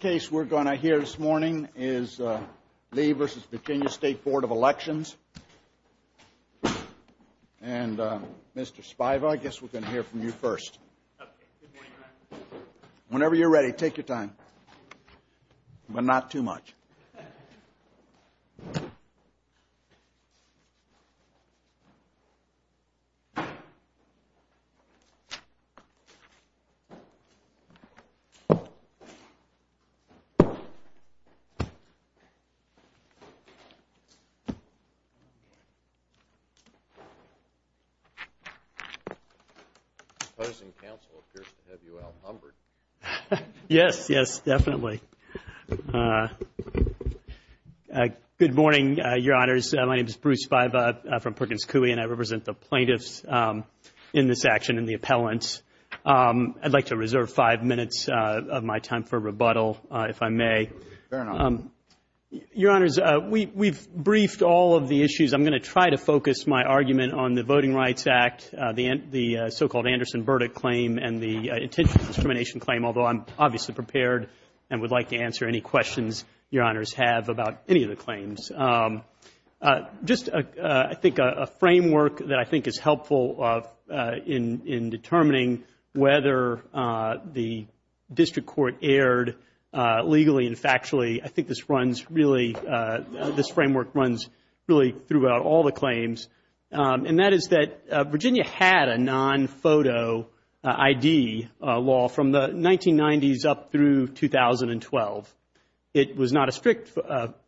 is Lee v. Virginia State Board of Elections. And Mr. Spiva, I guess we're going to hear from you first. Whenever you're ready, take your time, but not too much. Opposing counsel appears to have you outnumbered. Yes, yes, definitely. Good morning, Your Honors. My name is Bruce Spiva from Perkins Coie, and I represent the plaintiffs in this action and the appellants. I'd like to reserve five minutes of my time for rebuttal. If I may. Your Honors, we've briefed all of the issues. I'm going to try to focus my argument on the Voting Rights Act, the so-called Anderson Verdict claim, and the intentional discrimination claim, although I'm obviously prepared, and would like to answer any questions Your Honors have about any of the claims. Just a framework that I think is helpful in determining whether the district court erred in the case, and whether the District Court erred in the case, and whether the Supreme Court erred in the case. Legally and factually, I think this framework runs really throughout all the claims. And that is that Virginia had a non-photo ID law from the 1990s up through 2012. It was not a strict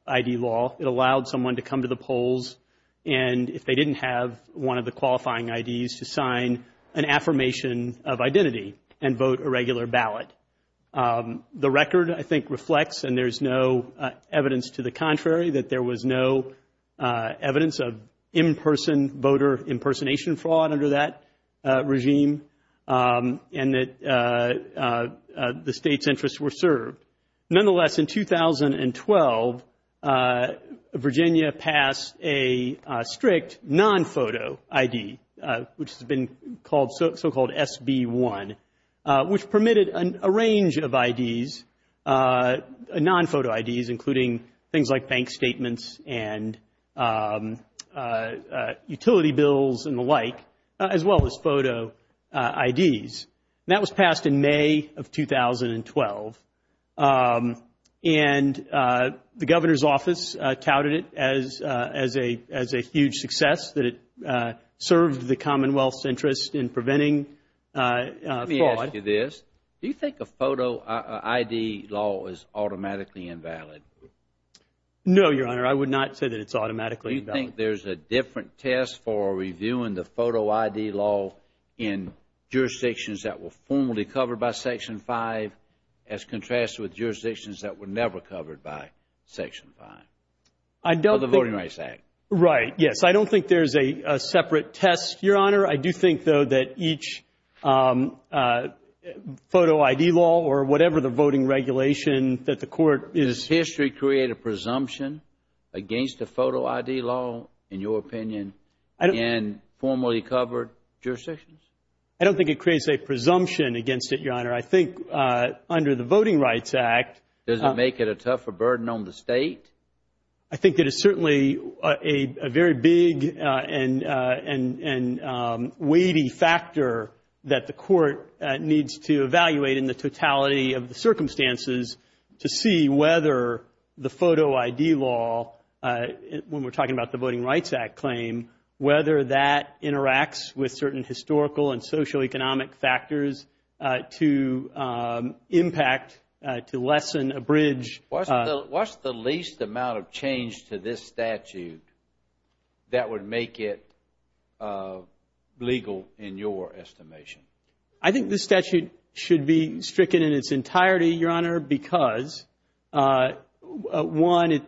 ID law. It allowed someone to come to the polls, and if they didn't have one of the qualifying IDs, to sign an affirmation of identity and vote a regular ballot. The record, I think, reflects, and there's no evidence to the contrary, that there was no evidence of in-person voter impersonation fraud under that regime, and that the state's interests were served. Nonetheless, in 2012, Virginia passed a strict non-photo ID, which has been called so-called SB1, which permitted a non-photo ID. It allowed a range of IDs, non-photo IDs, including things like bank statements and utility bills and the like, as well as photo IDs. And that was passed in May of 2012. And the Governor's Office touted it as a huge success, that it served the Commonwealth's interest in preventing fraud. Let me ask you this. Do you think a photo ID law is automatically invalid? No, Your Honor. I would not say that it's automatically invalid. Do you think there's a different test for reviewing the photo ID law in jurisdictions that were formally covered by Section 5, as contrasted with jurisdictions that were never covered by Section 5, or the Voting Rights Act? Right, yes. I don't think there's a separate test, Your Honor. I don't think a photo ID law or whatever the voting regulation that the Court is Does history create a presumption against a photo ID law, in your opinion, in formally covered jurisdictions? I don't think it creates a presumption against it, Your Honor. I think under the Voting Rights Act Does it make it a tougher burden on the State? I think it is certainly a very big and weighty factor that the Court needs to evaluate in the totality of the circumstances to see whether the photo ID law, when we're talking about the Voting Rights Act claim, whether that interacts with certain historical and socioeconomic factors to impact, to lessen, abridge What's the least amount of change to this statute that would make it legal, in your estimation? I think this statute should be stricken in its entirety, Your Honor, because I know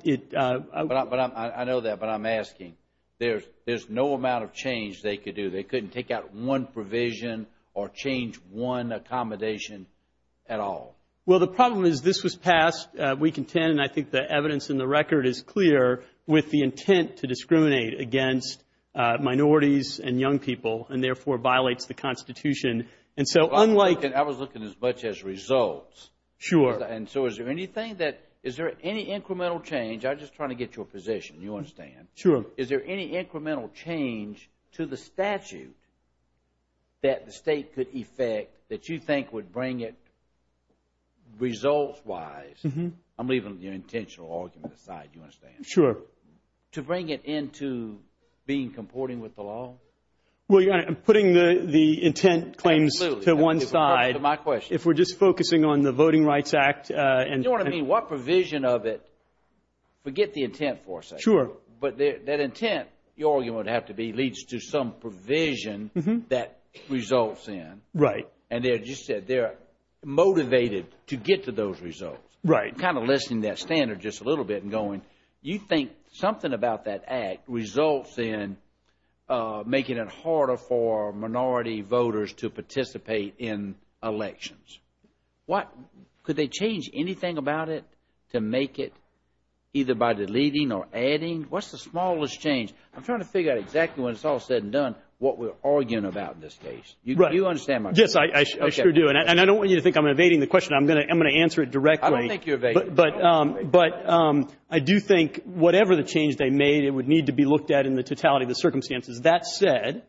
that, but I'm asking. There's no amount of change they could do. They couldn't take out one provision or change one accommodation at all. Well, the problem is this was passed week in 10, and I think the evidence in the record is clear with the intent to discriminate against minorities and young people and therefore violates the Constitution. Sure. I'm just trying to get your position. You understand. Sure. Is there any incremental change to the statute that the State could effect that you think would bring it results-wise? I'm leaving your intentional argument aside. Do you understand? Sure. To bring it into being comporting with the law? Well, Your Honor, I'm putting the intent claims to one side. If we're just focusing on the Voting Rights Act. Forget the intent for a second. But that intent, your argument would have to be, leads to some provision that results in. And as you said, they're motivated to get to those results. Right. I'm kind of listing that standard just a little bit and going. You think something about that act results in making it harder for minority voters to participate in elections. Could they change anything about it to make it either by deleting or adding? What's the smallest change? I'm trying to figure out exactly, when it's all said and done, what we're arguing about in this case. Right. Yes, I sure do. And I don't want you to think I'm evading the question. I'm going to answer it directly. I don't think you're evading it. But I do think whatever the change they made, it would need to be looked at in the totality of the circumstances. That said,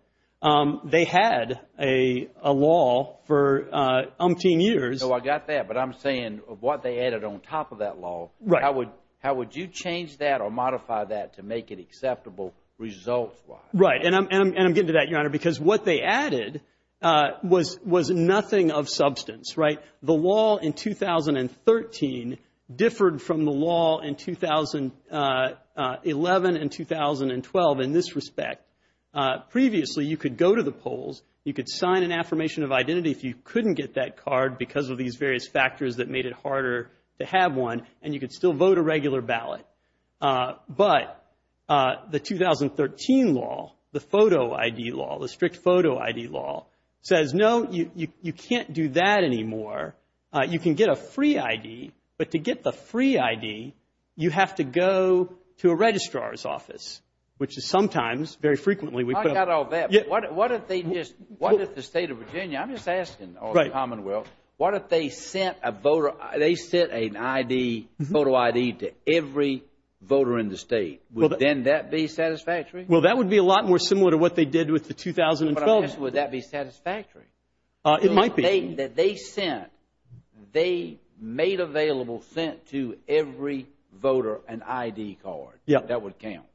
they had a law for umpteen years. So I got that. But I'm saying what they added on top of that law. How would you change that or modify that to make it acceptable results-wise? Right. And I'm getting to that, Your Honor, because what they added was nothing of substance. The law in 2013 differed from the law in 2011 and 2012 in this respect. Previously, you could go to the polls, you could sign an affirmation of identity if you couldn't get that card because of these various factors that made it harder to have one, and you could still vote a regular ballot. But the 2013 law, the photo ID law, the strict photo ID law, says, no, you can't do that anymore. You can get a free ID. But to get the free ID, you have to go to a registrar's office, which is sometimes, very frequently, we put up- I got all that. But what if they just, what if the state of Virginia, I'm just asking all the Commonwealth, what if they sent a voter, they sent an ID, photo ID to every voter in the state? Would then that be satisfactory? Well, that would be a lot more similar to what they did with the 2012. Would that be satisfactory? It might be. They made available, sent to every voter an ID card. That would count.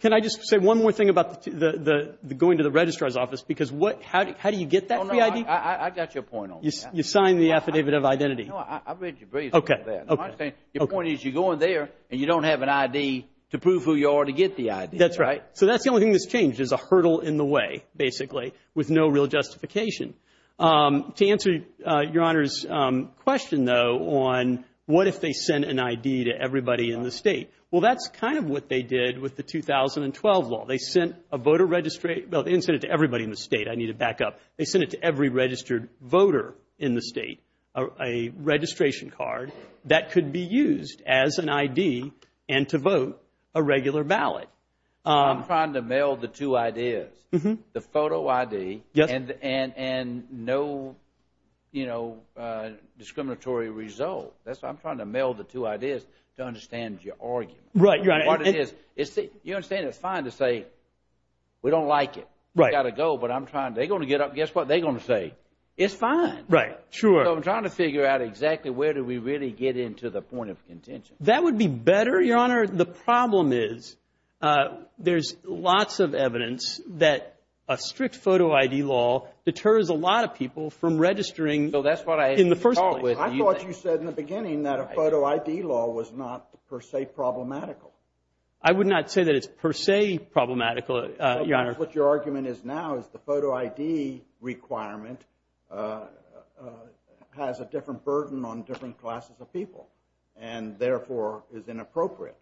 Can I just say one more thing about going to the registrar's office? Because how do you get that free ID? I got your point on that. You sign the affidavit of identity. Your point is you go in there and you don't have an ID to prove who you are to get the ID. That's right. So that's the only thing that's changed is a hurdle in the way, basically, with no real justification. To answer Your Honor's question, though, on what if they sent an ID to everybody in the state? Well, that's kind of what they did with the 2012 law. They sent a voter registration. Well, they didn't send it to everybody in the state. I need to back up. They sent it to every registered voter in the state, a registration card that could be used as an ID and to vote a regular ballot. I'm trying to meld the two ideas, the photo ID and no discriminatory result. I'm trying to meld the two ideas to understand your argument. You understand it's fine to say we don't like it. We've got to go, but they're going to get up and guess what they're going to say. It's fine. I'm trying to figure out exactly where do we really get into the point of contention. That would be better, Your Honor. The problem is there's lots of evidence that a strict photo ID law deters a lot of people from registering in the first place. I thought you said in the beginning that a photo ID law was not per se problematical. I would not say that it's per se problematical, Your Honor. What your argument is now is the photo ID requirement has a different burden on different classes of people and therefore is inappropriate.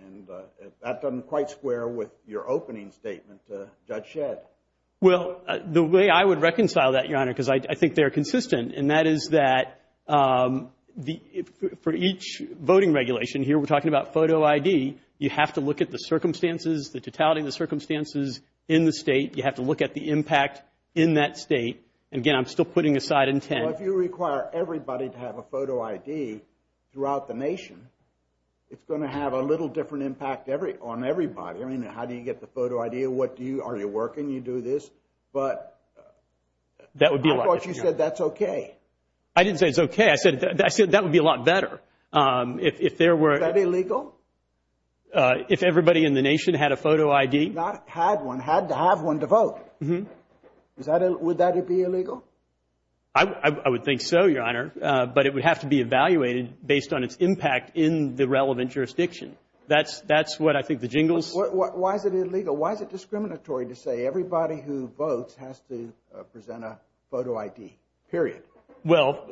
And that doesn't quite square with your opening statement to Judge Shedd. Well, the way I would reconcile that, Your Honor, because I think they're consistent, and that is that for each voting regulation, here we're talking about photo ID, you have to look at the circumstances, the totality of the circumstances in the state. You have to look at the impact in that state. And again, I'm still putting aside intent. Well, if you require everybody to have a photo ID throughout the nation, it's going to have a little different impact on everybody. I mean, how do you get the photo ID? Are you working? You do this. But I thought you said that's okay. I didn't say it's okay. I said that would be a lot better. Is that illegal? If everybody in the nation had a photo ID? Not had one, had to have one to vote. Would that be illegal? I would think so, Your Honor, but it would have to be evaluated based on its impact in the relevant jurisdiction. That's what I think the jingles. Why is it illegal? Why is it discriminatory to say everybody who votes has to present a photo ID, period? Well,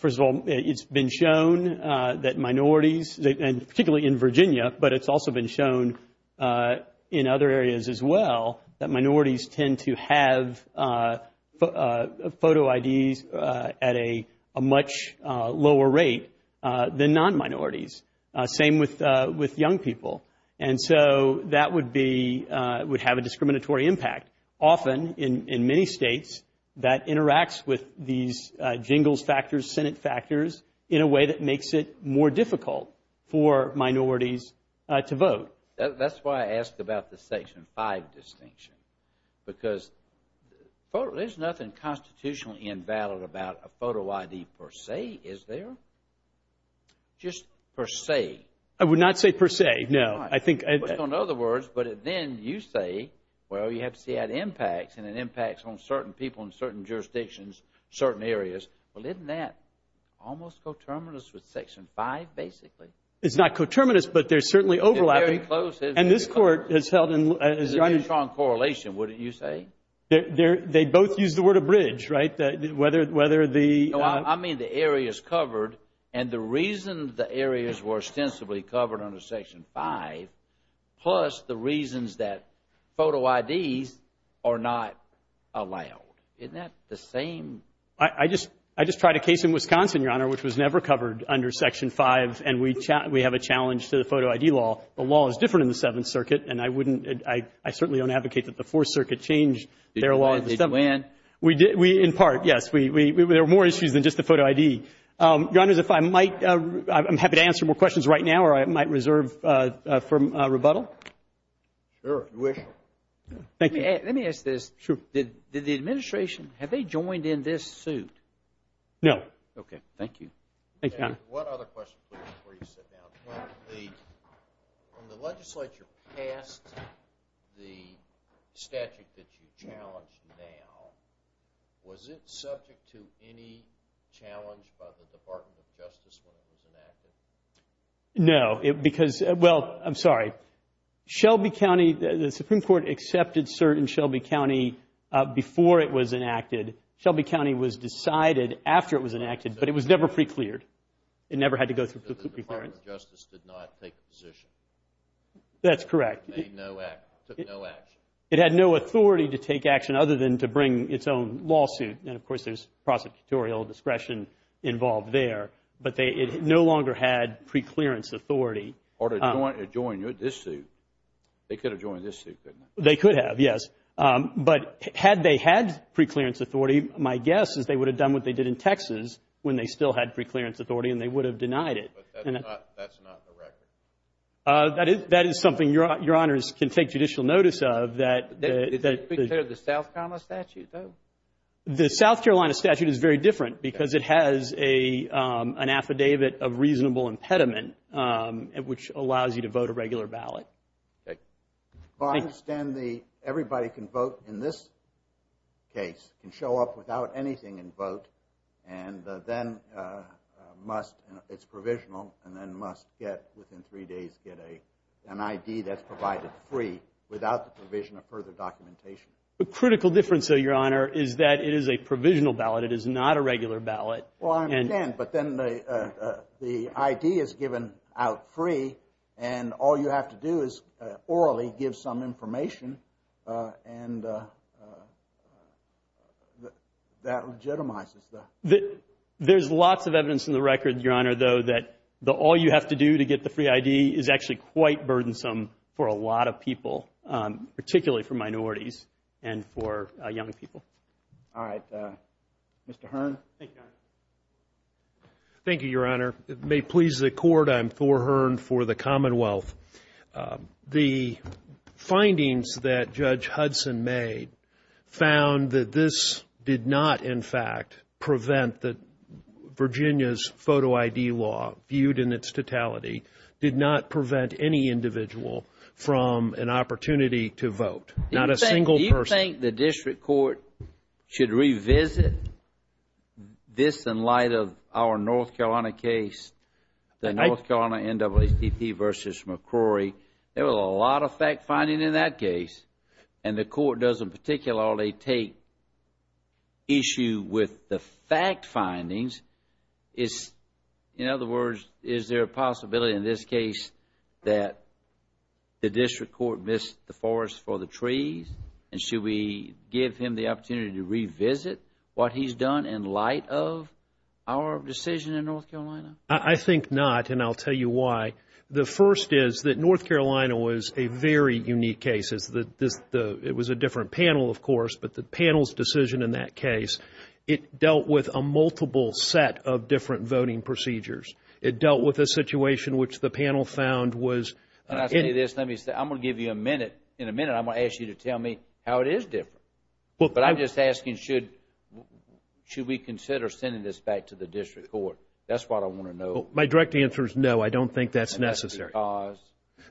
first of all, it's been shown that minorities, and particularly in Virginia, but it's also been shown in other areas as well, that minorities tend to have photo IDs at a much lower rate than non-minorities. Same with young people. And so that would have a discriminatory impact. Often, in many states, that interacts with these jingles factors, Senate factors, in a way that makes it more difficult for minorities to vote. That's why I asked about the Section 5 distinction, because there's nothing constitutionally invalid about a photo ID per se, is there? Just per se. I would not say per se, no. But then you say, well, you have to see how it impacts, and it impacts on certain people in certain jurisdictions, certain areas. Well, isn't that almost coterminous with Section 5, basically? It's not coterminous, but there's certainly overlap. It's very close. They both use the word abridged, right? I mean the areas covered, and the reason the areas were ostensibly covered under Section 5, plus the reasons that photo IDs are not allowed. Isn't that the same? I just tried a case in Wisconsin, Your Honor, which was never covered under Section 5, and we have a challenge to the photo ID law. The law is different in the Seventh Circuit, and I certainly don't advocate that the Fourth Circuit changed their law. In part, yes. There are more issues than just the photo ID. Your Honor, I'm happy to answer more questions right now, or I might reserve for rebuttal. Sure, if you wish. Let me ask this. Have they joined in this suit? No. Okay, thank you. One other question, please, before you sit down. When the legislature passed the statute that you challenged now, was it subject to any challenge by the Department of Justice when it was enacted? No. No, because, well, I'm sorry. Shelby County, the Supreme Court accepted cert in Shelby County before it was enacted. Shelby County was decided after it was enacted, but it was never pre-cleared. It never had to go through pre-clearance. That's correct. It had no authority to take action other than to bring its own lawsuit, and, of course, there's prosecutorial discretion involved there. But it no longer had pre-clearance authority. They could have joined this suit, couldn't they? They could have, yes. But had they had pre-clearance authority, my guess is they would have done what they did in Texas when they still had pre-clearance authority and they would have denied it. That's not the record. That is something Your Honors can take judicial notice of. The South Carolina statute is very different because it has an affidavit of reasonable impediment, which allows you to vote a regular ballot. I understand everybody can vote in this case, can show up without anything and vote, and then must, it's provisional, and then must get, within three days, get an ID that's provided free without the provision of further documentation. The critical difference, though, Your Honor, is that it is a provisional ballot. It is not a regular ballot. Well, I understand, but then the ID is given out free and all you have to do is orally give some information and that legitimizes that. There's lots of evidence in the record, Your Honor, though, that all you have to do to get the free ID is actually quite burdensome for a lot of people, particularly for minorities and for young people. All right. Mr. Hearn. Thank you, Your Honor. May it please the Court, I'm Thor Hearn for the Commonwealth. The findings that Judge Hudson made found that this did not, in fact, prevent the Virginia's photo ID law, viewed in its totality, did not prevent any individual from an opportunity to vote, not a single person. Do you think the District Court should revisit this in light of our North Carolina case, the North Carolina NAACP versus McCrory? There was a lot of fact-finding in that case, and the Court doesn't particularly take issue with the fact-findings. In other words, is there a possibility in this case that the District Court missed the forest for the trees, and should we give him the opportunity to revisit what he's done in light of our decision in North Carolina? I think not, and I'll tell you why. The first is that North Carolina was a very unique case. It was a different panel, of course, but the panel's decision in that case, it dealt with a multiple set of different voting procedures. It dealt with a situation which the panel found was... When I say this, I'm going to give you a minute. In a minute, I'm going to ask you to tell me how it is different. But I'm just asking, should we consider sending this back to the District Court? That's what I want to know. My direct answer is no, I don't think that's necessary.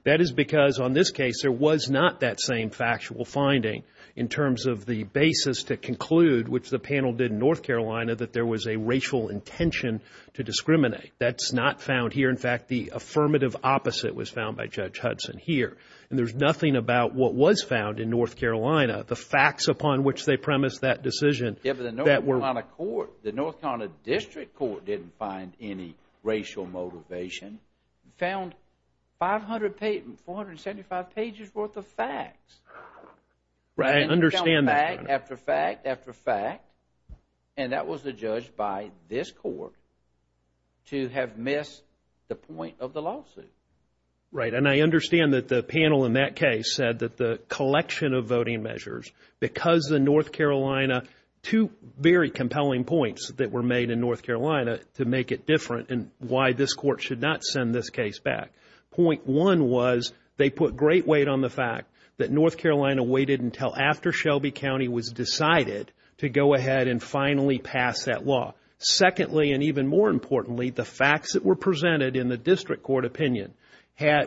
That is because on this case, there was not that same factual finding in terms of the basis to conclude, which the panel did in North Carolina, that there was a racial intention to discriminate. That's not found here. In fact, the affirmative opposite was found by Judge Hudson here. And there's nothing about what was found in North Carolina, the facts upon which they premised that decision. The North Carolina District Court didn't find any racial motivation. They found 475 pages worth of facts. I understand that. And that was adjudged by this Court to have missed the point of the lawsuit. Right, and I understand that the panel in that case said that the collection of voting measures, because in North Carolina, two very compelling points that were made in North Carolina to make it different, and why this Court should not send this case back. Point one was they put great weight on the fact that North Carolina waited until after Shelby County was decided to go ahead and finally pass that law. Secondly, and even more importantly, the facts that were presented in the District Court opinion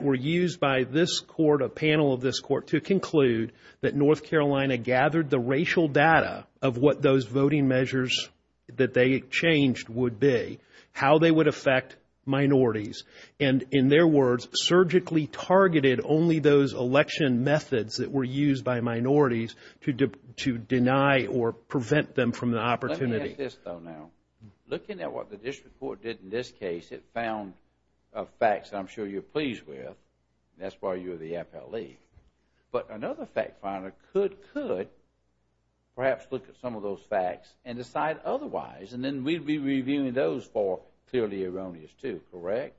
were used by this Court, a panel of this Court, to conclude that North Carolina gathered the racial data of what those voting measures that they changed would be, how they would affect minorities, and in their words, surgically targeted only those election methods that were used by minorities to deny or prevent them from the opportunity. Let me ask this, though, now. Looking at what the District Court did in this case, it found facts I'm sure you're pleased with. That's why you're the appellee. But another fact finder could perhaps look at some of those facts and decide otherwise, and then we'd be reviewing those for clearly erroneous, too, correct?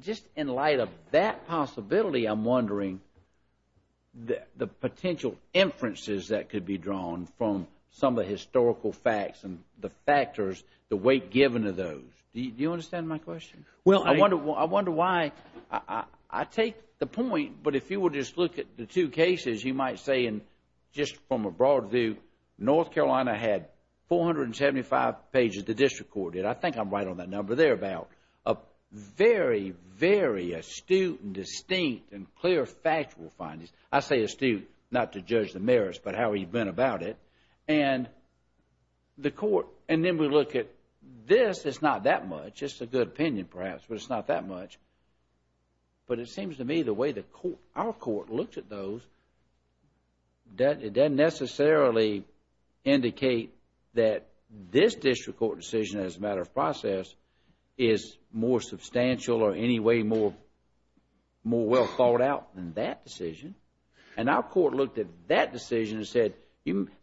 Just in light of that possibility, I'm wondering the potential inferences that could be drawn from some of the historical facts and the factors, the weight given to those. Do you understand my question? Well, if you would just look at the two cases, you might say, just from a broad view, North Carolina had 475 pages the District Court did. I think I'm right on that number there, about a very, very astute and distinct and clear factual findings. I say astute, not to judge the merits, but how he'd been about it. And then we look at this, it's not that much. It's just a good opinion, perhaps, but it's not that much. But it seems to me the way our court looked at those, it doesn't necessarily indicate that this District Court decision as a matter of process is more substantial or any way more well thought out than that decision. And our court looked at that decision and said,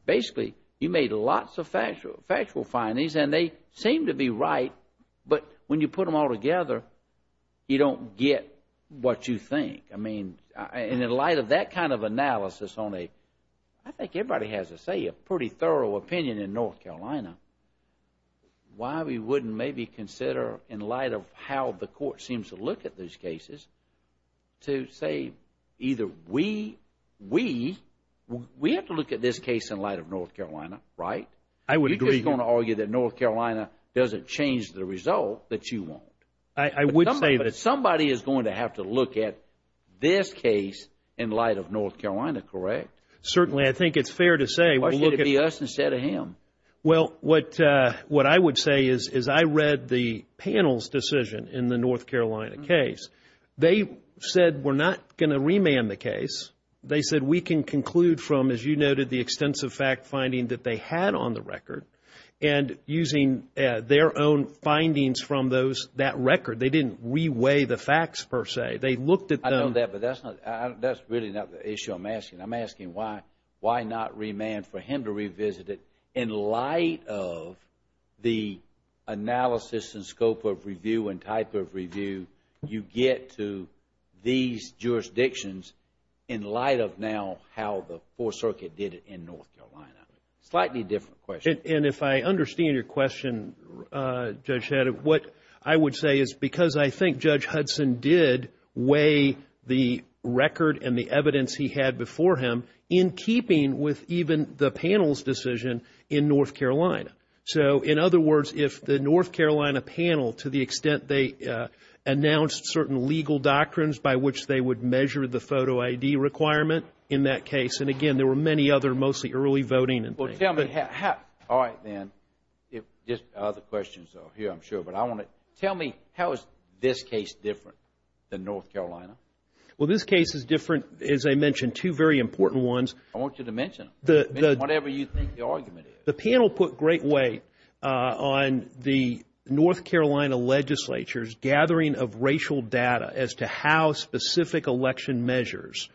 basically, you made lots of factual findings and they seem to be right, but when you put them all together, you don't get what you think. And in light of that kind of analysis on a, I think everybody has to say, a pretty thorough opinion in North Carolina, why we wouldn't maybe consider, in light of how the court seems to look at those cases, to say either we have to look at this case in light of North Carolina, right? You're just going to argue that North Carolina doesn't change the result that you want. But somebody is going to have to look at this case in light of North Carolina, correct? Certainly. I think it's fair to say. Why should it be us instead of him? Well, what I would say is I read the panel's decision in the North Carolina case. They said we're not going to remand the case. They said we can conclude from, as you noted, the extensive fact-finding that they had on the record. And using their own findings from that record, they didn't reweigh the facts, per se. They looked at them. I know that, but that's really not the issue I'm asking. I'm asking why not remand for him to revisit it in light of the analysis and scope of review and type of review you get to these jurisdictions in light of now how the Fourth Circuit did it in North Carolina. Slightly different question. And if I understand your question, Judge Hedda, what I would say is because I think Judge Hudson did weigh the record and the evidence he had for him in keeping with even the panel's decision in North Carolina. So, in other words, if the North Carolina panel, to the extent they announced certain legal doctrines by which they would measure the photo ID requirement in that case, and again, there were many other mostly early voting. All right, then. Just other questions here, I'm sure. But tell me, how is this case different than North Carolina? Well, this case is different, as I mentioned, two very important ones. I want you to mention them, whatever you think the argument is. The panel put great weight on the North Carolina legislature's gathering of racial data as to how specific election measures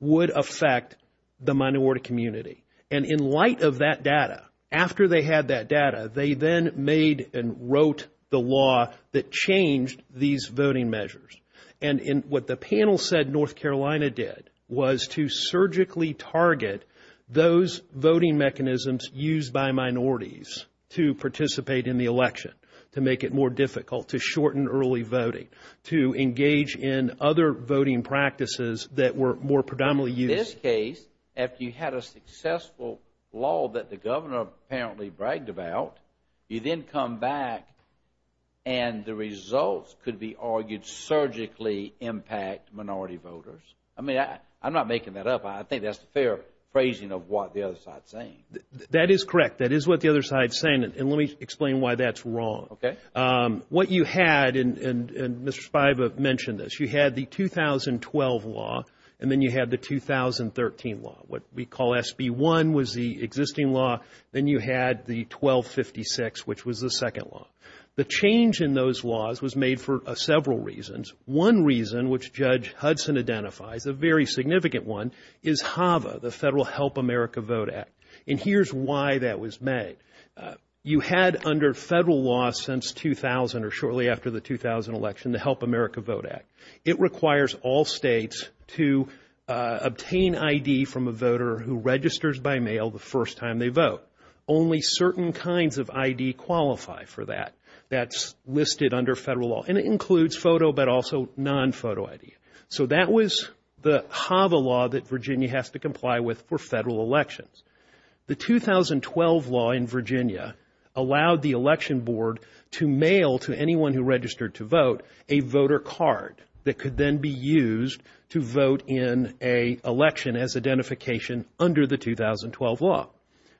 would affect the minority community. And in light of that data, after they had that data, they then made and wrote the law that changed these voting measures. And what the panel said North Carolina did was to surgically target those voting mechanisms used by minorities to participate in the election, to make it more difficult, to shorten early voting, to engage in other voting practices that were more predominantly used. In this case, after you had a successful law that the governor apparently bragged about, you then come back and the results could be argued surgically impact minority voters. I mean, I'm not making that up. I think that's a fair phrasing of what the other side is saying. That is correct. That is what the other side is saying, and let me explain why that's wrong. Okay. What you had, and Mr. Spiva mentioned this, you had the 2012 law, and then you had the 2013 law. What we call SB1 was the existing law. Then you had the 1256, which was the second law. The change in those laws was made for several reasons. One reason, which Judge Hudson identifies, a very significant one, is HAVA, the Federal Help America Vote Act. And here's why that was made. You had under Federal law since 2000, or shortly after the 2000 election, the Help America Vote Act. It requires all states to obtain ID from a voter who registers by mail the first time they vote. Only certain kinds of ID qualify for that. That's listed under Federal law, and it includes photo, but also non-photo ID. So that was the HAVA law that Virginia has to comply with for Federal elections. The 2012 law in Virginia allowed the election board to mail to anyone who registered to vote a voter card that could then be used to vote in an election as identification under the 2012 law.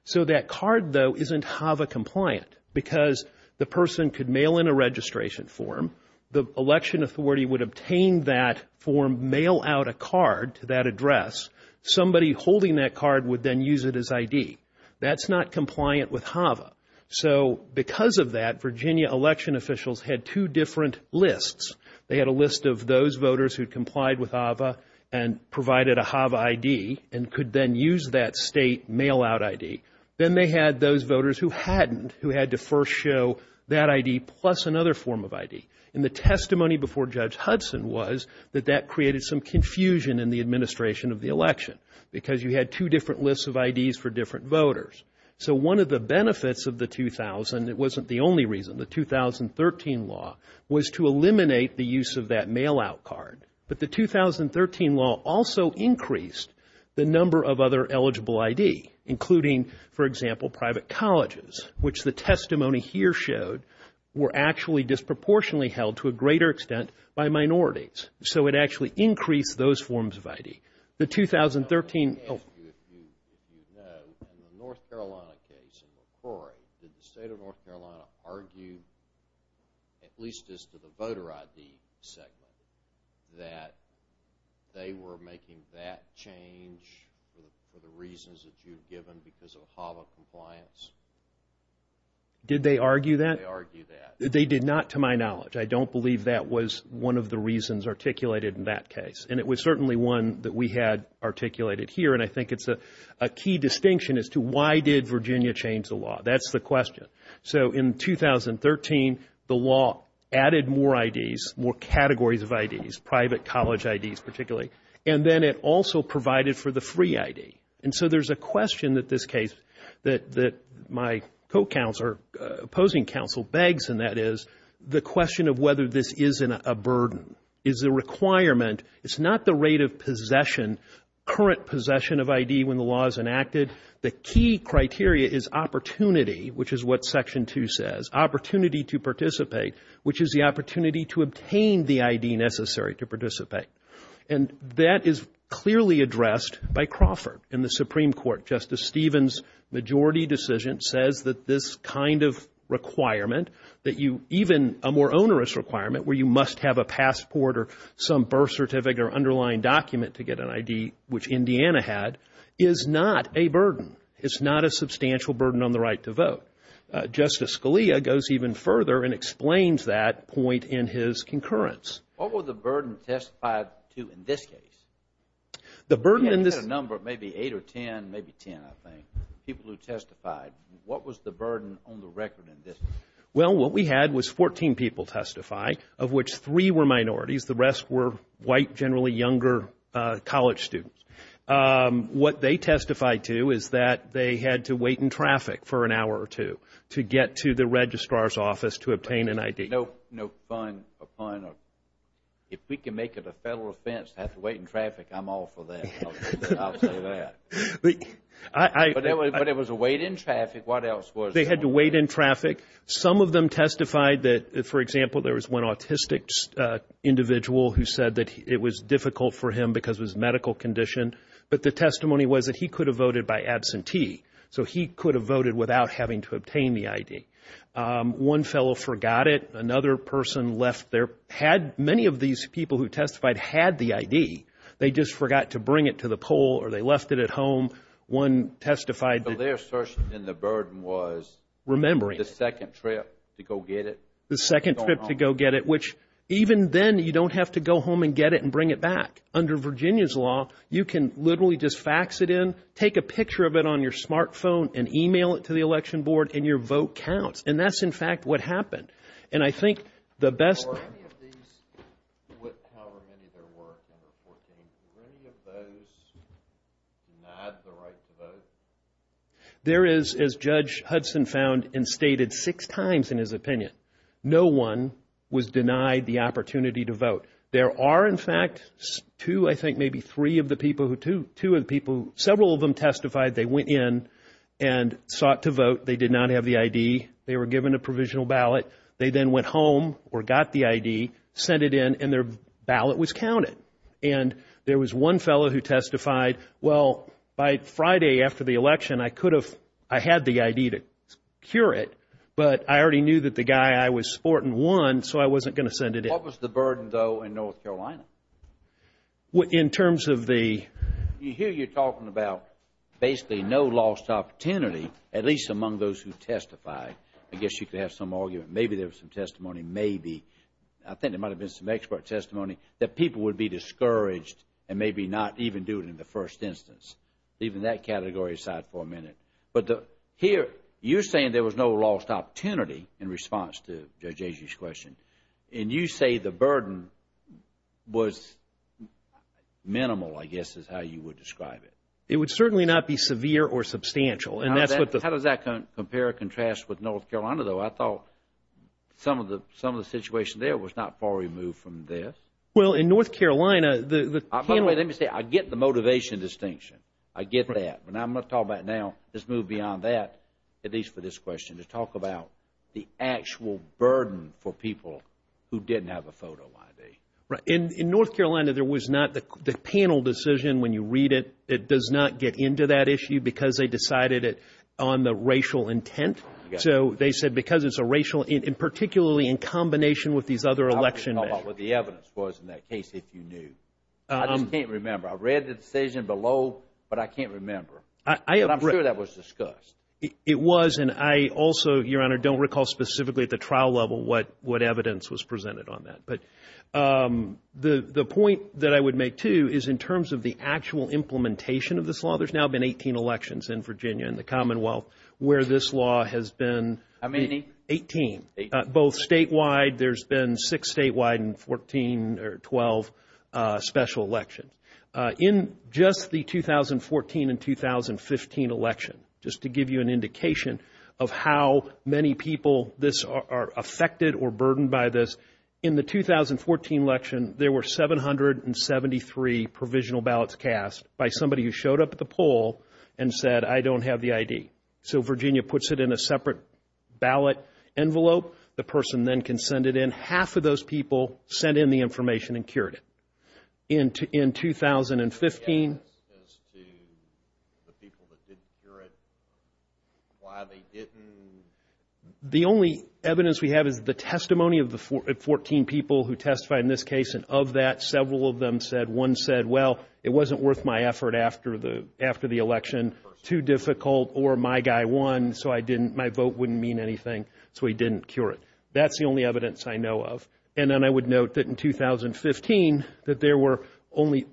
So that card, though, isn't HAVA compliant, because the person could mail in a registration form. The election authority would obtain that form, mail out a card to that address. Somebody holding that card would then use it as ID. That's not compliant with HAVA. So because of that, Virginia election officials had two different lists. They had a list of those voters who complied with HAVA and provided a HAVA ID and could then use that state mail-out ID. Then they had those voters who hadn't, who had to first show that ID plus another form of ID. And the testimony before Judge Hudson was that that created some confusion in the administration of the election, because you had two different lists of IDs for different voters. So one of the benefits of the 2000, it wasn't the only reason, the 2013 law, was to eliminate the use of that mail-out card. But the 2013 law also increased the number of other eligible ID, including, for example, private colleges, which the testimony here showed were actually disproportionately held to a greater extent by minorities. So it actually increased those forms of ID. The 2013... In the North Carolina case in McCrory, did the state of North Carolina argue, at least as to the voter ID segment, that they were making that change for the reasons that you've given because of HAVA compliance? Did they argue that? They did not, to my knowledge. I don't believe that was one of the reasons articulated in that case. And it was certainly one that we had articulated here. And I think it's a key distinction as to why did Virginia change the law. That's the question. So in 2013, the law added more IDs, more categories of IDs, private college IDs particularly. And then it also provided for the free ID. And so there's a question that this case, that my co-counselor, opposing counsel, begs, and that is the question of whether this isn't a burden. It's a requirement. It's not the rate of possession, current possession of ID when the law is enacted. The key criteria is opportunity, which is what Section 2 says. Opportunity to participate, which is the opportunity to obtain the ID necessary to participate. That is clearly addressed by Crawford in the Supreme Court. Justice Stevens' majority decision says that this kind of requirement, that even a more onerous requirement where you must have a passport or some birth certificate or underlying document to get an ID, which Indiana had, is not a burden. It's not a substantial burden on the right to vote. Justice Scalia goes even further and explains that point in his concurrence. What was the burden testified to in this case? You had a number, maybe eight or ten, maybe ten, I think, people who testified. What was the burden on the record in this case? Well, what we had was 14 people testify, of which three were minorities. The rest were white, generally younger college students. What they testified to is that they had to wait in traffic for an hour or two to get to the registrar's office to obtain an ID. No pun. If we can make it a Federal offense to have to wait in traffic, I'm all for that. I'll say that. But it was a wait in traffic. What else was there? They had to wait in traffic. Some of them testified that, for example, there was one autistic individual who said that it was difficult for him because of his medical condition. But the testimony was that he could have voted by absentee. So he could have voted without having to obtain the ID. One fellow forgot it. Another person left their ID. Many of these people who testified had the ID. They just forgot to bring it to the poll, or they left it at home. One testified that their search and the burden was the second trip to go get it. The second trip to go get it, which even then you don't have to go home and get it and bring it back. Under Virginia's law, you can literally just fax it in, take a picture of it on your smartphone, and email it to the election board, and your vote counts. And that's, in fact, what happened. There is, as Judge Hudson found and stated six times in his opinion, no one was denied the opportunity to vote. There are, in fact, two, I think maybe three of the people, two of the people, several of them testified. They went in and sought to vote. They did not have the ID. They were given a provisional ballot. They then went home or got the ID, sent it in, and their ballot was counted. And there was one fellow who testified, well, by Friday after the election, I could have, I had the ID to cure it, but I already knew that the guy I was sporting won, so I wasn't going to send it in. What was the burden, though, in North Carolina? Here you're talking about basically no lost opportunity, at least among those who testified. I guess you could have some argument, maybe there was some testimony, maybe. I think there might have been some expert testimony that people would be discouraged and maybe not even do it in the first instance. Leaving that category aside for a minute. But here you're saying there was no lost opportunity in response to Judge Agee's question. And you say the burden was minimal, I guess is how you would describe it. It would certainly not be severe or substantial. How does that compare or contrast with North Carolina, though? I thought some of the situation there was not far removed from this. Well, in North Carolina, the panel. By the way, let me say, I get the motivation distinction. I get that. But I'm going to talk about now, let's move beyond that, at least for this question, to talk about the actual burden for people who didn't have a photo ID. Right. In North Carolina, there was not the panel decision, when you read it, it does not get into that issue because they decided it on the racial intent. So they said because it's a racial, and particularly in combination with these other election measures. I'll talk about what the evidence was in that case if you knew. I just can't remember. I read the decision below, but I can't remember. But I'm sure that was discussed. It was, and I also, Your Honor, don't recall specifically at the trial level what evidence was presented on that. But the point that I would make, too, is in terms of the actual implementation of this law. There's now been 18 elections in Virginia and the Commonwealth where this law has been. How many? Eighteen, both statewide. There's been six statewide and 14 or 12 special elections. In just the 2014 and 2015 election, just to give you an indication of how many people this are affected or burdened by this. In the 2014 election, there were 773 provisional ballots cast by somebody who showed up at the poll and said, I don't have the ID. So Virginia puts it in a separate ballot envelope. The person then can send it in. Half of those people sent in the information and cured it. In 2015. As to the people that didn't cure it, why they didn't. The only evidence we have is the testimony of the 14 people who testified in this case. And of that, several of them said, one said, well, it wasn't worth my effort after the election. Too difficult or my guy won, so I didn't, my vote wouldn't mean anything. So he didn't cure it. That's the only evidence I know of. And then I would note that in 2015, that there were only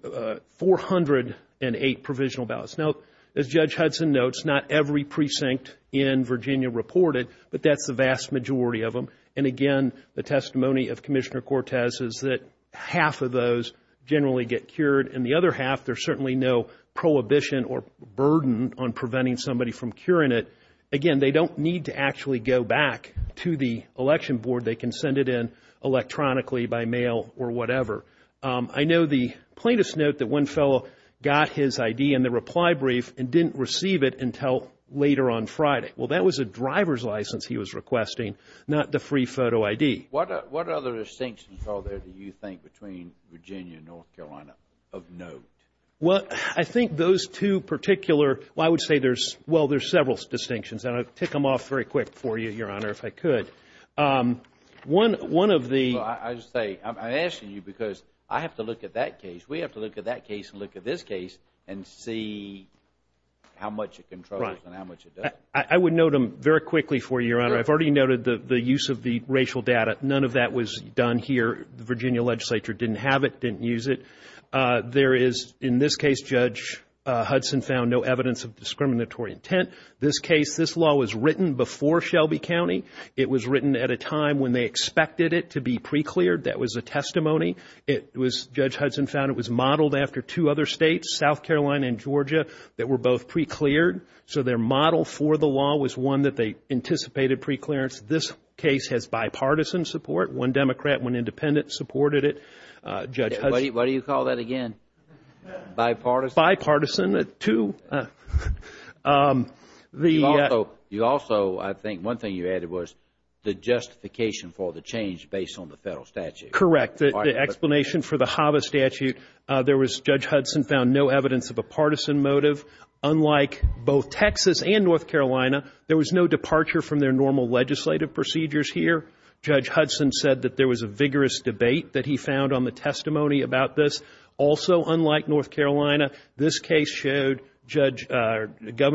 408 provisional ballots. Now, as Judge Hudson notes, not every precinct in Virginia reported, but that's the vast majority of them. And again, the testimony of Commissioner Cortez is that half of those generally get cured. And the other half, there's certainly no prohibition or burden on preventing somebody from curing it. Again, they don't need to actually go back to the election board. They can send it in electronically by mail or whatever. I know the plaintiffs note that one fellow got his I.D. in the reply brief and didn't receive it until later on Friday. Well, that was a driver's license he was requesting, not the free photo I.D. What other distinctions are there, do you think, between Virginia and North Carolina of note? Well, I think those two particular, well, I would say there's several distinctions. And I'll tick them off very quick for you, Your Honor, if I could. I'm asking you because I have to look at that case. We have to look at that case and look at this case and see how much it controls and how much it doesn't. I would note them very quickly for you, Your Honor. I've already noted the use of the racial data. None of that was done here. The Virginia legislature didn't have it, didn't use it. There is, in this case, Judge Hudson found no evidence of discriminatory intent. This case, this law was written before Shelby County. It was written at a time when they expected it to be precleared. That was a testimony. It was, Judge Hudson found it was modeled after two other states, South Carolina and Georgia, that were both precleared. So their model for the law was one that they anticipated preclearance. This case has bipartisan support. One Democrat, one Independent supported it. What do you call that again? Bipartisan? Bipartisan, two. You also, I think, one thing you added was the justification for the change based on the Federal statute. Correct. The explanation for the HAVA statute, there was, Judge Hudson found no evidence of a partisan motive. Unlike both Texas and North Carolina, there was no departure from their normal legislative procedures here. Judge Hudson said that there was a vigorous debate that he found on the testimony about this. Also, unlike North Carolina, this case showed Governor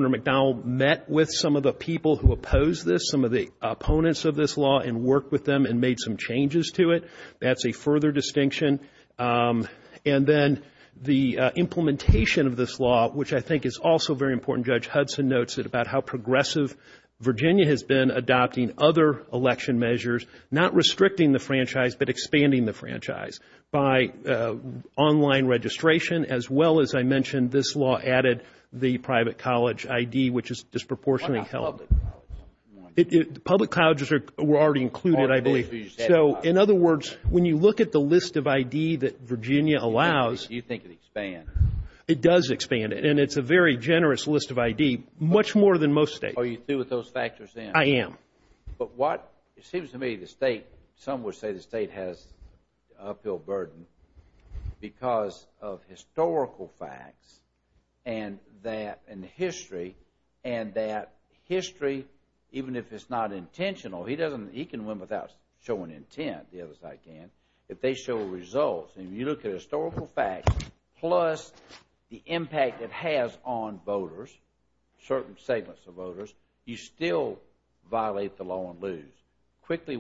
McDonnell met with some of the people who opposed this, some of the opponents of this law, and worked with them and made some changes to it. That's a further distinction. And then the implementation of this law, which I think is also very important, Judge Hudson notes it, about how progressive Virginia has been adopting other election measures, not restricting the franchise, but expanding the franchise. By online registration, as well as I mentioned, this law added the private college ID, which is disproportionately held. Public colleges were already included, I believe. So, in other words, when you look at the list of ID that Virginia allows, it does expand it, and it's a very generous list of ID, much more than most states. Are you through with those factors, then? I am. But what it seems to me the state, some would say the state has an uphill burden because of historical facts and history, and that history, even if it's not intentional, he can win without showing intent, the other side can. If they show results, and you look at historical facts, plus the impact it has on voters, certain segments of voters, you still violate the law and lose. Quickly,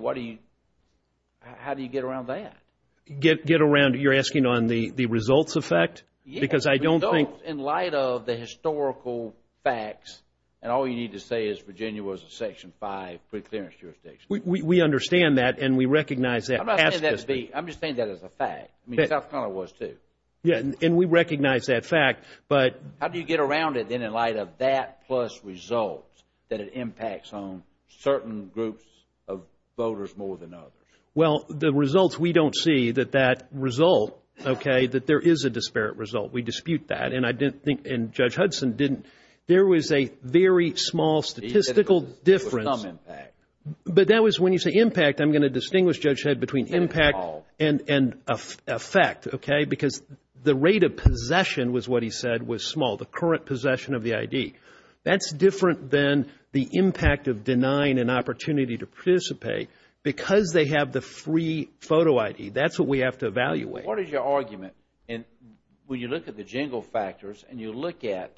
how do you get around that? You're asking on the results effect? Yes, results in light of the historical facts, and all you need to say is Virginia was a Section 5 preclearance jurisdiction. We understand that, and we recognize that. I'm not saying that to be, I'm just saying that as a fact. South Carolina was, too. And we recognize that fact. How do you get around it, then, in light of that plus results, that it impacts on certain groups of voters more than others? Well, the results, we don't see that that result, okay, that there is a disparate result. We dispute that, and I didn't think, and Judge Hudson didn't. There was a very small statistical difference. But that was, when you say impact, I'm going to distinguish, Judge Head, between impact and effect, okay, because the rate of possession was what he said was small, the current possession of the ID. That's different than the impact of denying an opportunity to participate because they have the free photo ID. That's what we have to evaluate. What is your argument, and when you look at the jingle factors, and you look at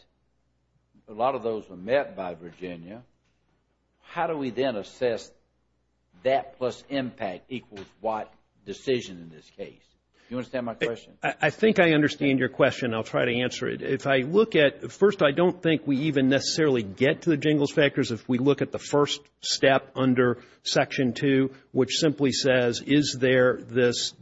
a lot of those were met by Virginia, how do we then assess that plus impact equals what decision in this case? Do you understand my question? I think I understand your question. I'll try to answer it. If I look at, first, I don't think we even necessarily get to the jingles factors. If we look at the first step under Section 2, which simply says, is there this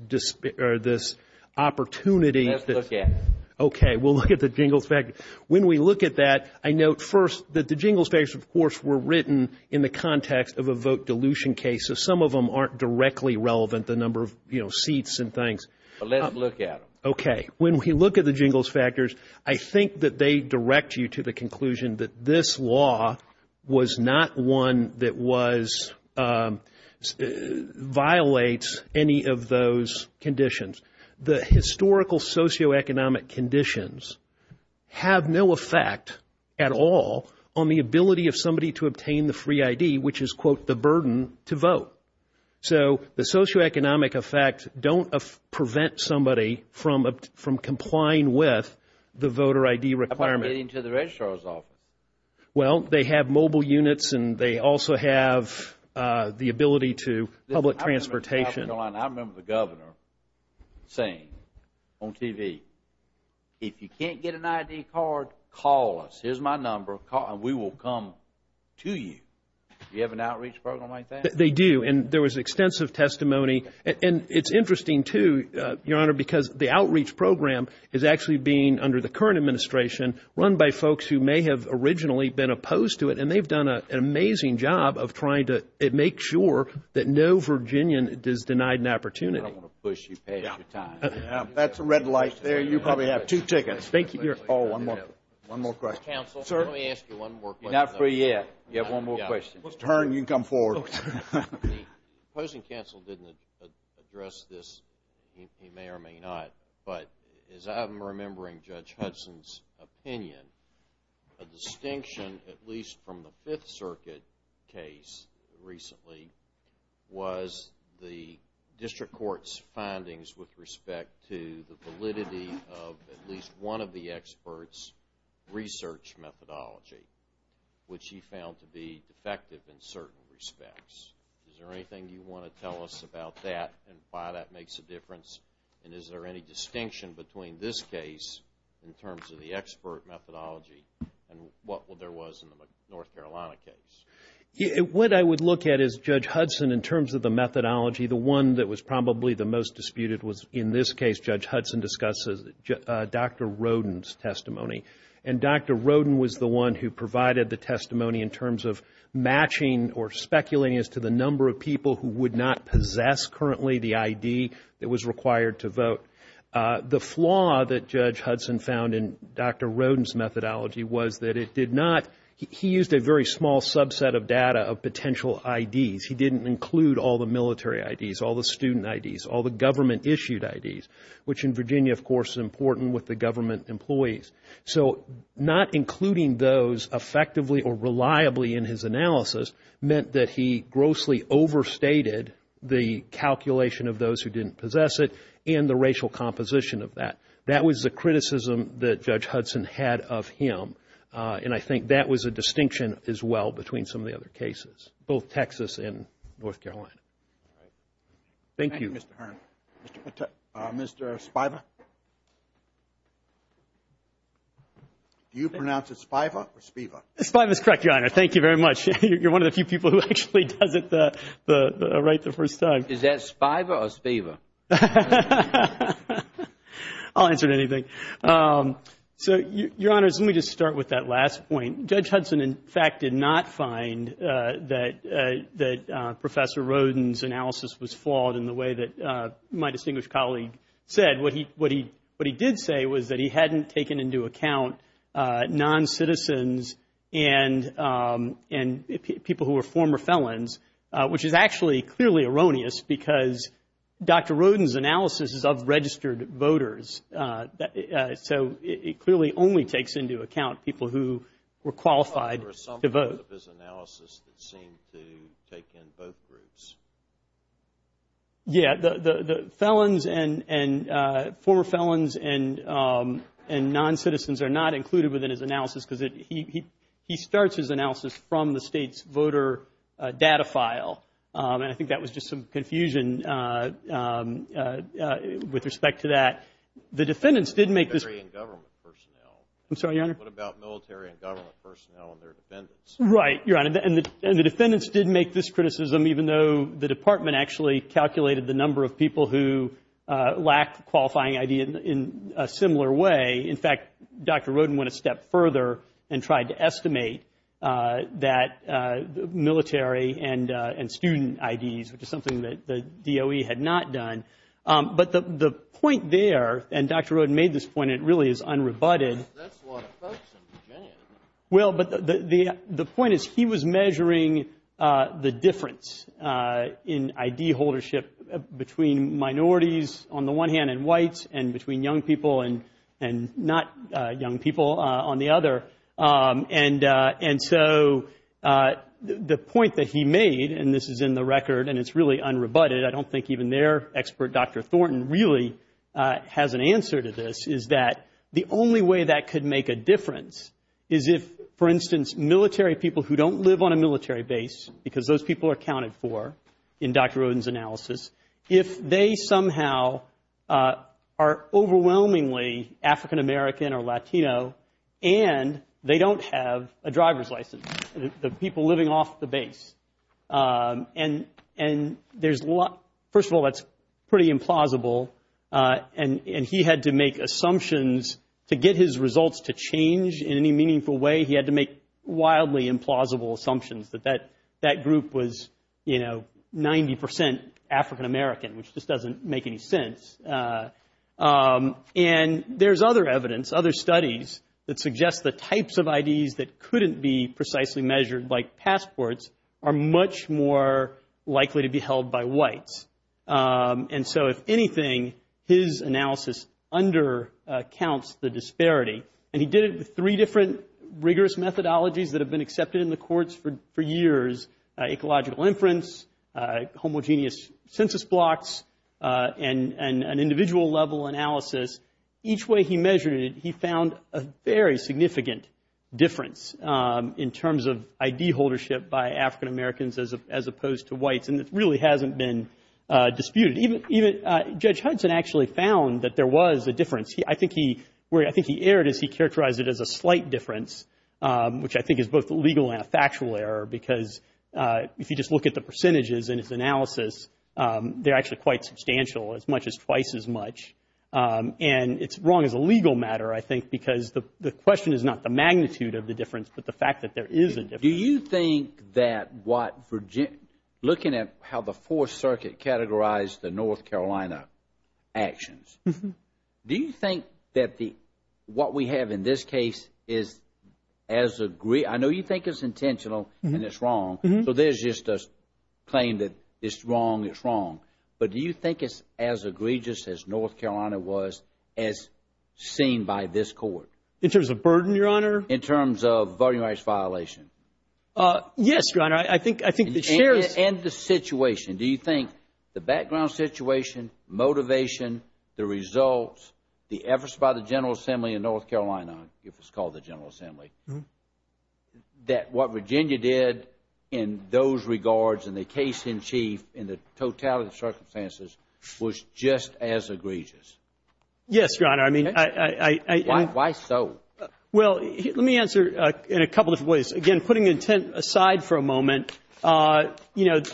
opportunity? Let's look at it. Okay. We'll look at the jingles factors. When we look at that, I note, first, that the jingles factors, of course, were written in the context of a vote dilution case, so some of them aren't directly relevant, the number of seats and things. But let's look at them. Okay. When we look at the jingles factors, I think that they direct you to the conclusion that this law was not one that was, violates any of those conditions. The historical socioeconomic conditions have no effect at all on the ability of somebody to obtain the free ID, which is, quote, the burden to vote. So the socioeconomic effect don't prevent somebody from complying with the voter ID requirement. How about getting to the registrar's office? Well, they have mobile units and they also have the ability to public transportation. I remember the governor saying on TV, if you can't get an ID card, call us. Here's my number and we will come to you. Do you have an outreach program like that? They do, and there was extensive testimony. And it's interesting, too, Your Honor, because the outreach program is actually being, under the current administration, run by folks who may have originally been opposed to it. And they've done an amazing job of trying to make sure that no Virginian is denied an opportunity. I don't want to push you past your time. That's a red light there. You probably have two tickets. One more question. The opposing counsel didn't address this. He may or may not. But as I'm remembering Judge Hudson's opinion, a distinction, at least from the Fifth Circuit case recently, was the district court's findings with respect to the validity of at least one of the experts' research methodology, which he found to be defective in certain respects. Is there anything you want to tell us about that and why that makes a difference? And is there any distinction between this case in terms of the expert methodology and what there was in the North Carolina case? What I would look at is Judge Hudson, in terms of the methodology, the one that was probably the most disputed was in this case, Judge Hudson discussed Dr. Roden's testimony. And Dr. Roden was the one who provided the testimony in terms of matching or speculating as to the number of people who would not possess currently the ID that was required to vote. The flaw that Judge Hudson found in Dr. Roden's methodology was that it did not he used a very small subset of the data of potential IDs. He didn't include all the military IDs, all the student IDs, all the government-issued IDs, which in Virginia, of course, is important with the government employees. So not including those effectively or reliably in his analysis meant that he grossly overstated the calculation of those who didn't possess it and the racial composition of that. That was the criticism that Judge Hudson had of him. And I think that was a distinction as well between some of the other cases, both Texas and North Carolina. Thank you. Thank you, Mr. Hearn. Mr. Spiva? Do you pronounce it Spiva or Spiva? Spiva is correct, Your Honor. Thank you very much. You're one of the few people who actually does it right the first time. Is that Spiva or Spiva? I'll answer anything. So, Your Honor, let me just start with that last point. Judge Hudson, in fact, did not find that Professor Roden's analysis was flawed in the way that my distinguished colleague said. What he did say was that he hadn't taken into account non-citizens and, in fact, people who were former felons, which is actually clearly erroneous, because Dr. Roden's analysis is of registered voters. So it clearly only takes into account people who were qualified to vote. Yeah, the felons and former felons and non-citizens are not included within his analysis, because he starts his analysis from the state's voter data file. And I think that was just some confusion with respect to that. The defendants did make this. I'm sorry, Your Honor. What about military and government personnel and their defendants? Right, Your Honor, and the defendants did make this criticism, even though the Department actually calculated the number of people who lacked a qualifying ID in a similar way. In fact, Dr. Roden went a step further and tried to estimate that military and student IDs, which is something that the DOE had not done. But the point there, and Dr. Roden made this point, and it really is unrebutted. The point is he was measuring the difference in ID holdership between minorities on the one hand and whites and between young people and not young people on the other. And so the point that he made, and this is in the record and it's really unrebutted, I don't think even their expert, Dr. Thornton, really has an answer to this, is that the only way that could make a difference is if, for instance, military people who don't live on a military base, because those people are counted for in Dr. Roden's analysis, if they somehow are overwhelmingly African American or Latino and they don't have a driver's license, the people living off the base. And first of all, that's pretty implausible, and he had to make assumptions to get his results to change in any meaningful way. He had to make wildly implausible assumptions that that group was 90 percent African American, which just doesn't make any sense. And there's other evidence, other studies that suggest the types of IDs that couldn't be precisely measured, like passports, are much more likely to be held by whites. And so if anything, his analysis undercounts the disparity. And he did it with three different rigorous methodologies that have been accepted in the courts for years, ecological inference, homogeneous census blocks, and an individual level analysis. Each way he measured it, he found a very significant difference in terms of disputed. Judge Hudson actually found that there was a difference. I think he erred as he characterized it as a slight difference, which I think is both legal and a factual error, because if you just look at the percentages in his analysis, they're actually quite substantial, as much as twice as much. And it's wrong as a legal matter, I think, because the question is not the magnitude of the difference, but the fact that there is a difference. Do you think that looking at how the Fourth Circuit categorized the North Carolina actions, do you think that what we have in this case is as egregious? I know you think it's intentional and it's wrong, so there's just a claim that it's wrong, it's wrong. But do you think it's as egregious as North Carolina was as seen by this court? In terms of burden, Your Honor? In terms of voting rights violation. Yes, Your Honor. I think the sheriff's... And the situation. Do you think the background situation, motivation, the results, the efforts by the General Assembly in North Carolina, if it's called the General Assembly, that what Virginia did in those regards in the case in chief in the totality of circumstances was just as egregious? Yes, Your Honor. I mean... Why so? Well, let me answer in a couple of ways. Again, putting intent aside for a moment, I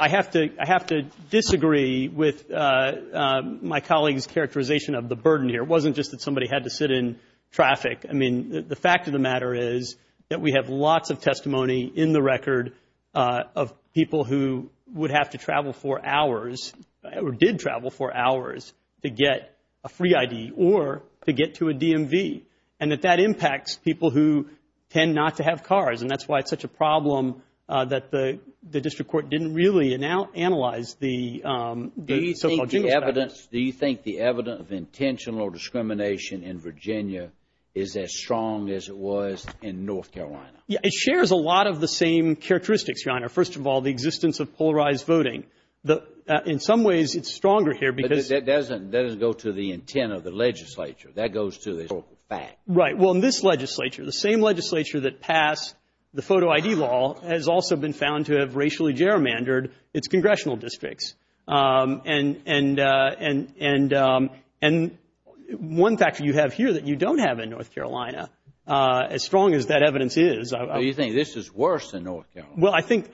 have to disagree with my colleague's characterization of the burden here. It wasn't just that somebody had to sit in traffic. I mean, the fact of the matter is that we have lots of testimony in the record of people who would have to travel for hours or did travel for hours to get a free ID or to get to a DMV, and that that impacts people who tend not to have cars. And that's why it's such a problem that the district court didn't really analyze the... Do you think the evidence of intentional discrimination in Virginia is as strong as it was in North Carolina? It shares a lot of the same characteristics, Your Honor. First of all, the existence of polarized voting. In some ways, it's stronger here because... But that doesn't go to the intent of the legislature. That goes to the fact. Right. Well, in this legislature, the same legislature that passed the photo ID law has also been found to have racially gerrymandered its congressional districts. And one factor you have here that you don't have in North Carolina, as strong as that evidence is... Well, you think this is worse than North Carolina? Well, I think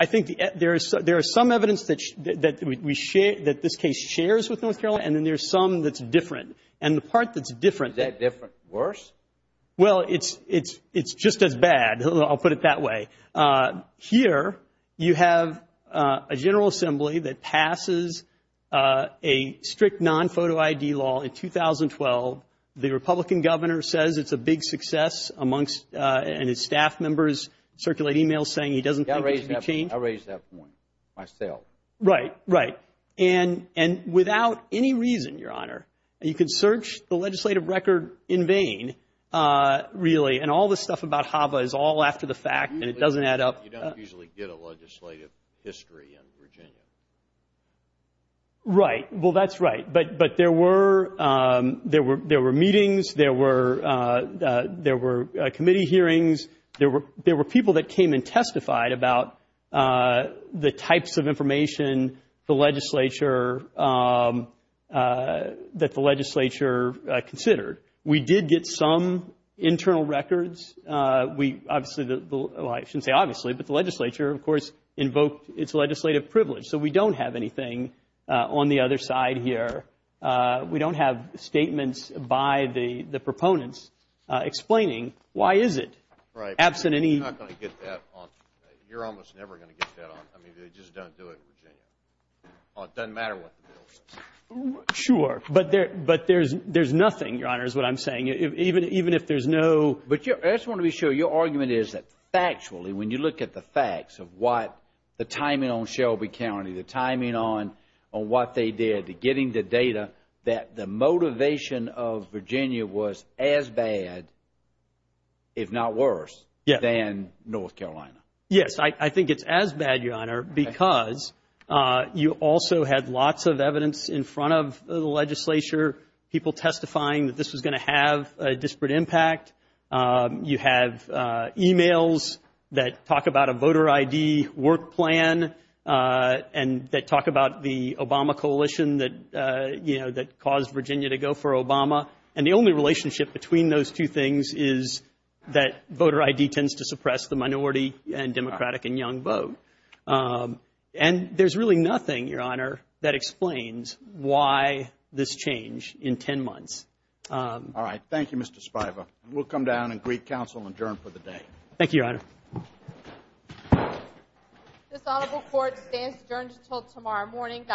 there is some evidence that this case shares with North Carolina, and then there's some that's different. And the part that's different... Is that different or worse? Well, it's just as bad. I'll put it that way. Here, you have a General Assembly that passes a strict non-photo ID law in 2012. The Republican governor says it's a big success amongst... And his staff members circulate emails saying he doesn't think it should be changed. I raised that point myself. Right. Right. And without any reason, Your Honor, you can search the legislative record in vain, really. And all the stuff about HAVA is all after the fact, and it doesn't add up. You don't usually get a legislative history in Virginia. Right. Well, that's right. But there were meetings. There were committee hearings. There were people that came and testified about the types of information that the legislature considered. We did get some internal records. I shouldn't say obviously, but the legislature, of course, invoked its legislative privilege. So we don't have anything on the other side here. We don't have statements by the proponents explaining why is it. Right. You're almost never going to get that on. I mean, they just don't do it in Virginia. It doesn't matter what the bill says. Sure. But there's nothing, Your Honor, is what I'm saying, even if there's no... But I just want to be sure, your argument is that factually, when you look at the facts of what the timing on Shelby County, the timing on what they did to getting the data, that the motivation of Virginia was as bad, if not worse, than North Carolina. Yes. I think it's as bad, Your Honor, because you also had lots of evidence in front of the legislature, people testifying that this was going to have a disparate impact. You have e-mails that talk about a voter I.D. work plan and that talk about the Obama coalition that, you know, that caused Virginia to go for Obama. And the only relationship between those two things is that voter I.D. tends to suppress the minority and Democratic and young vote. And there's really nothing, Your Honor, that explains why this change in 10 months. All right. Thank you, Mr. Spiva. We'll come down and greet counsel and adjourn for the day. This honorable court stands adjourned until tomorrow morning.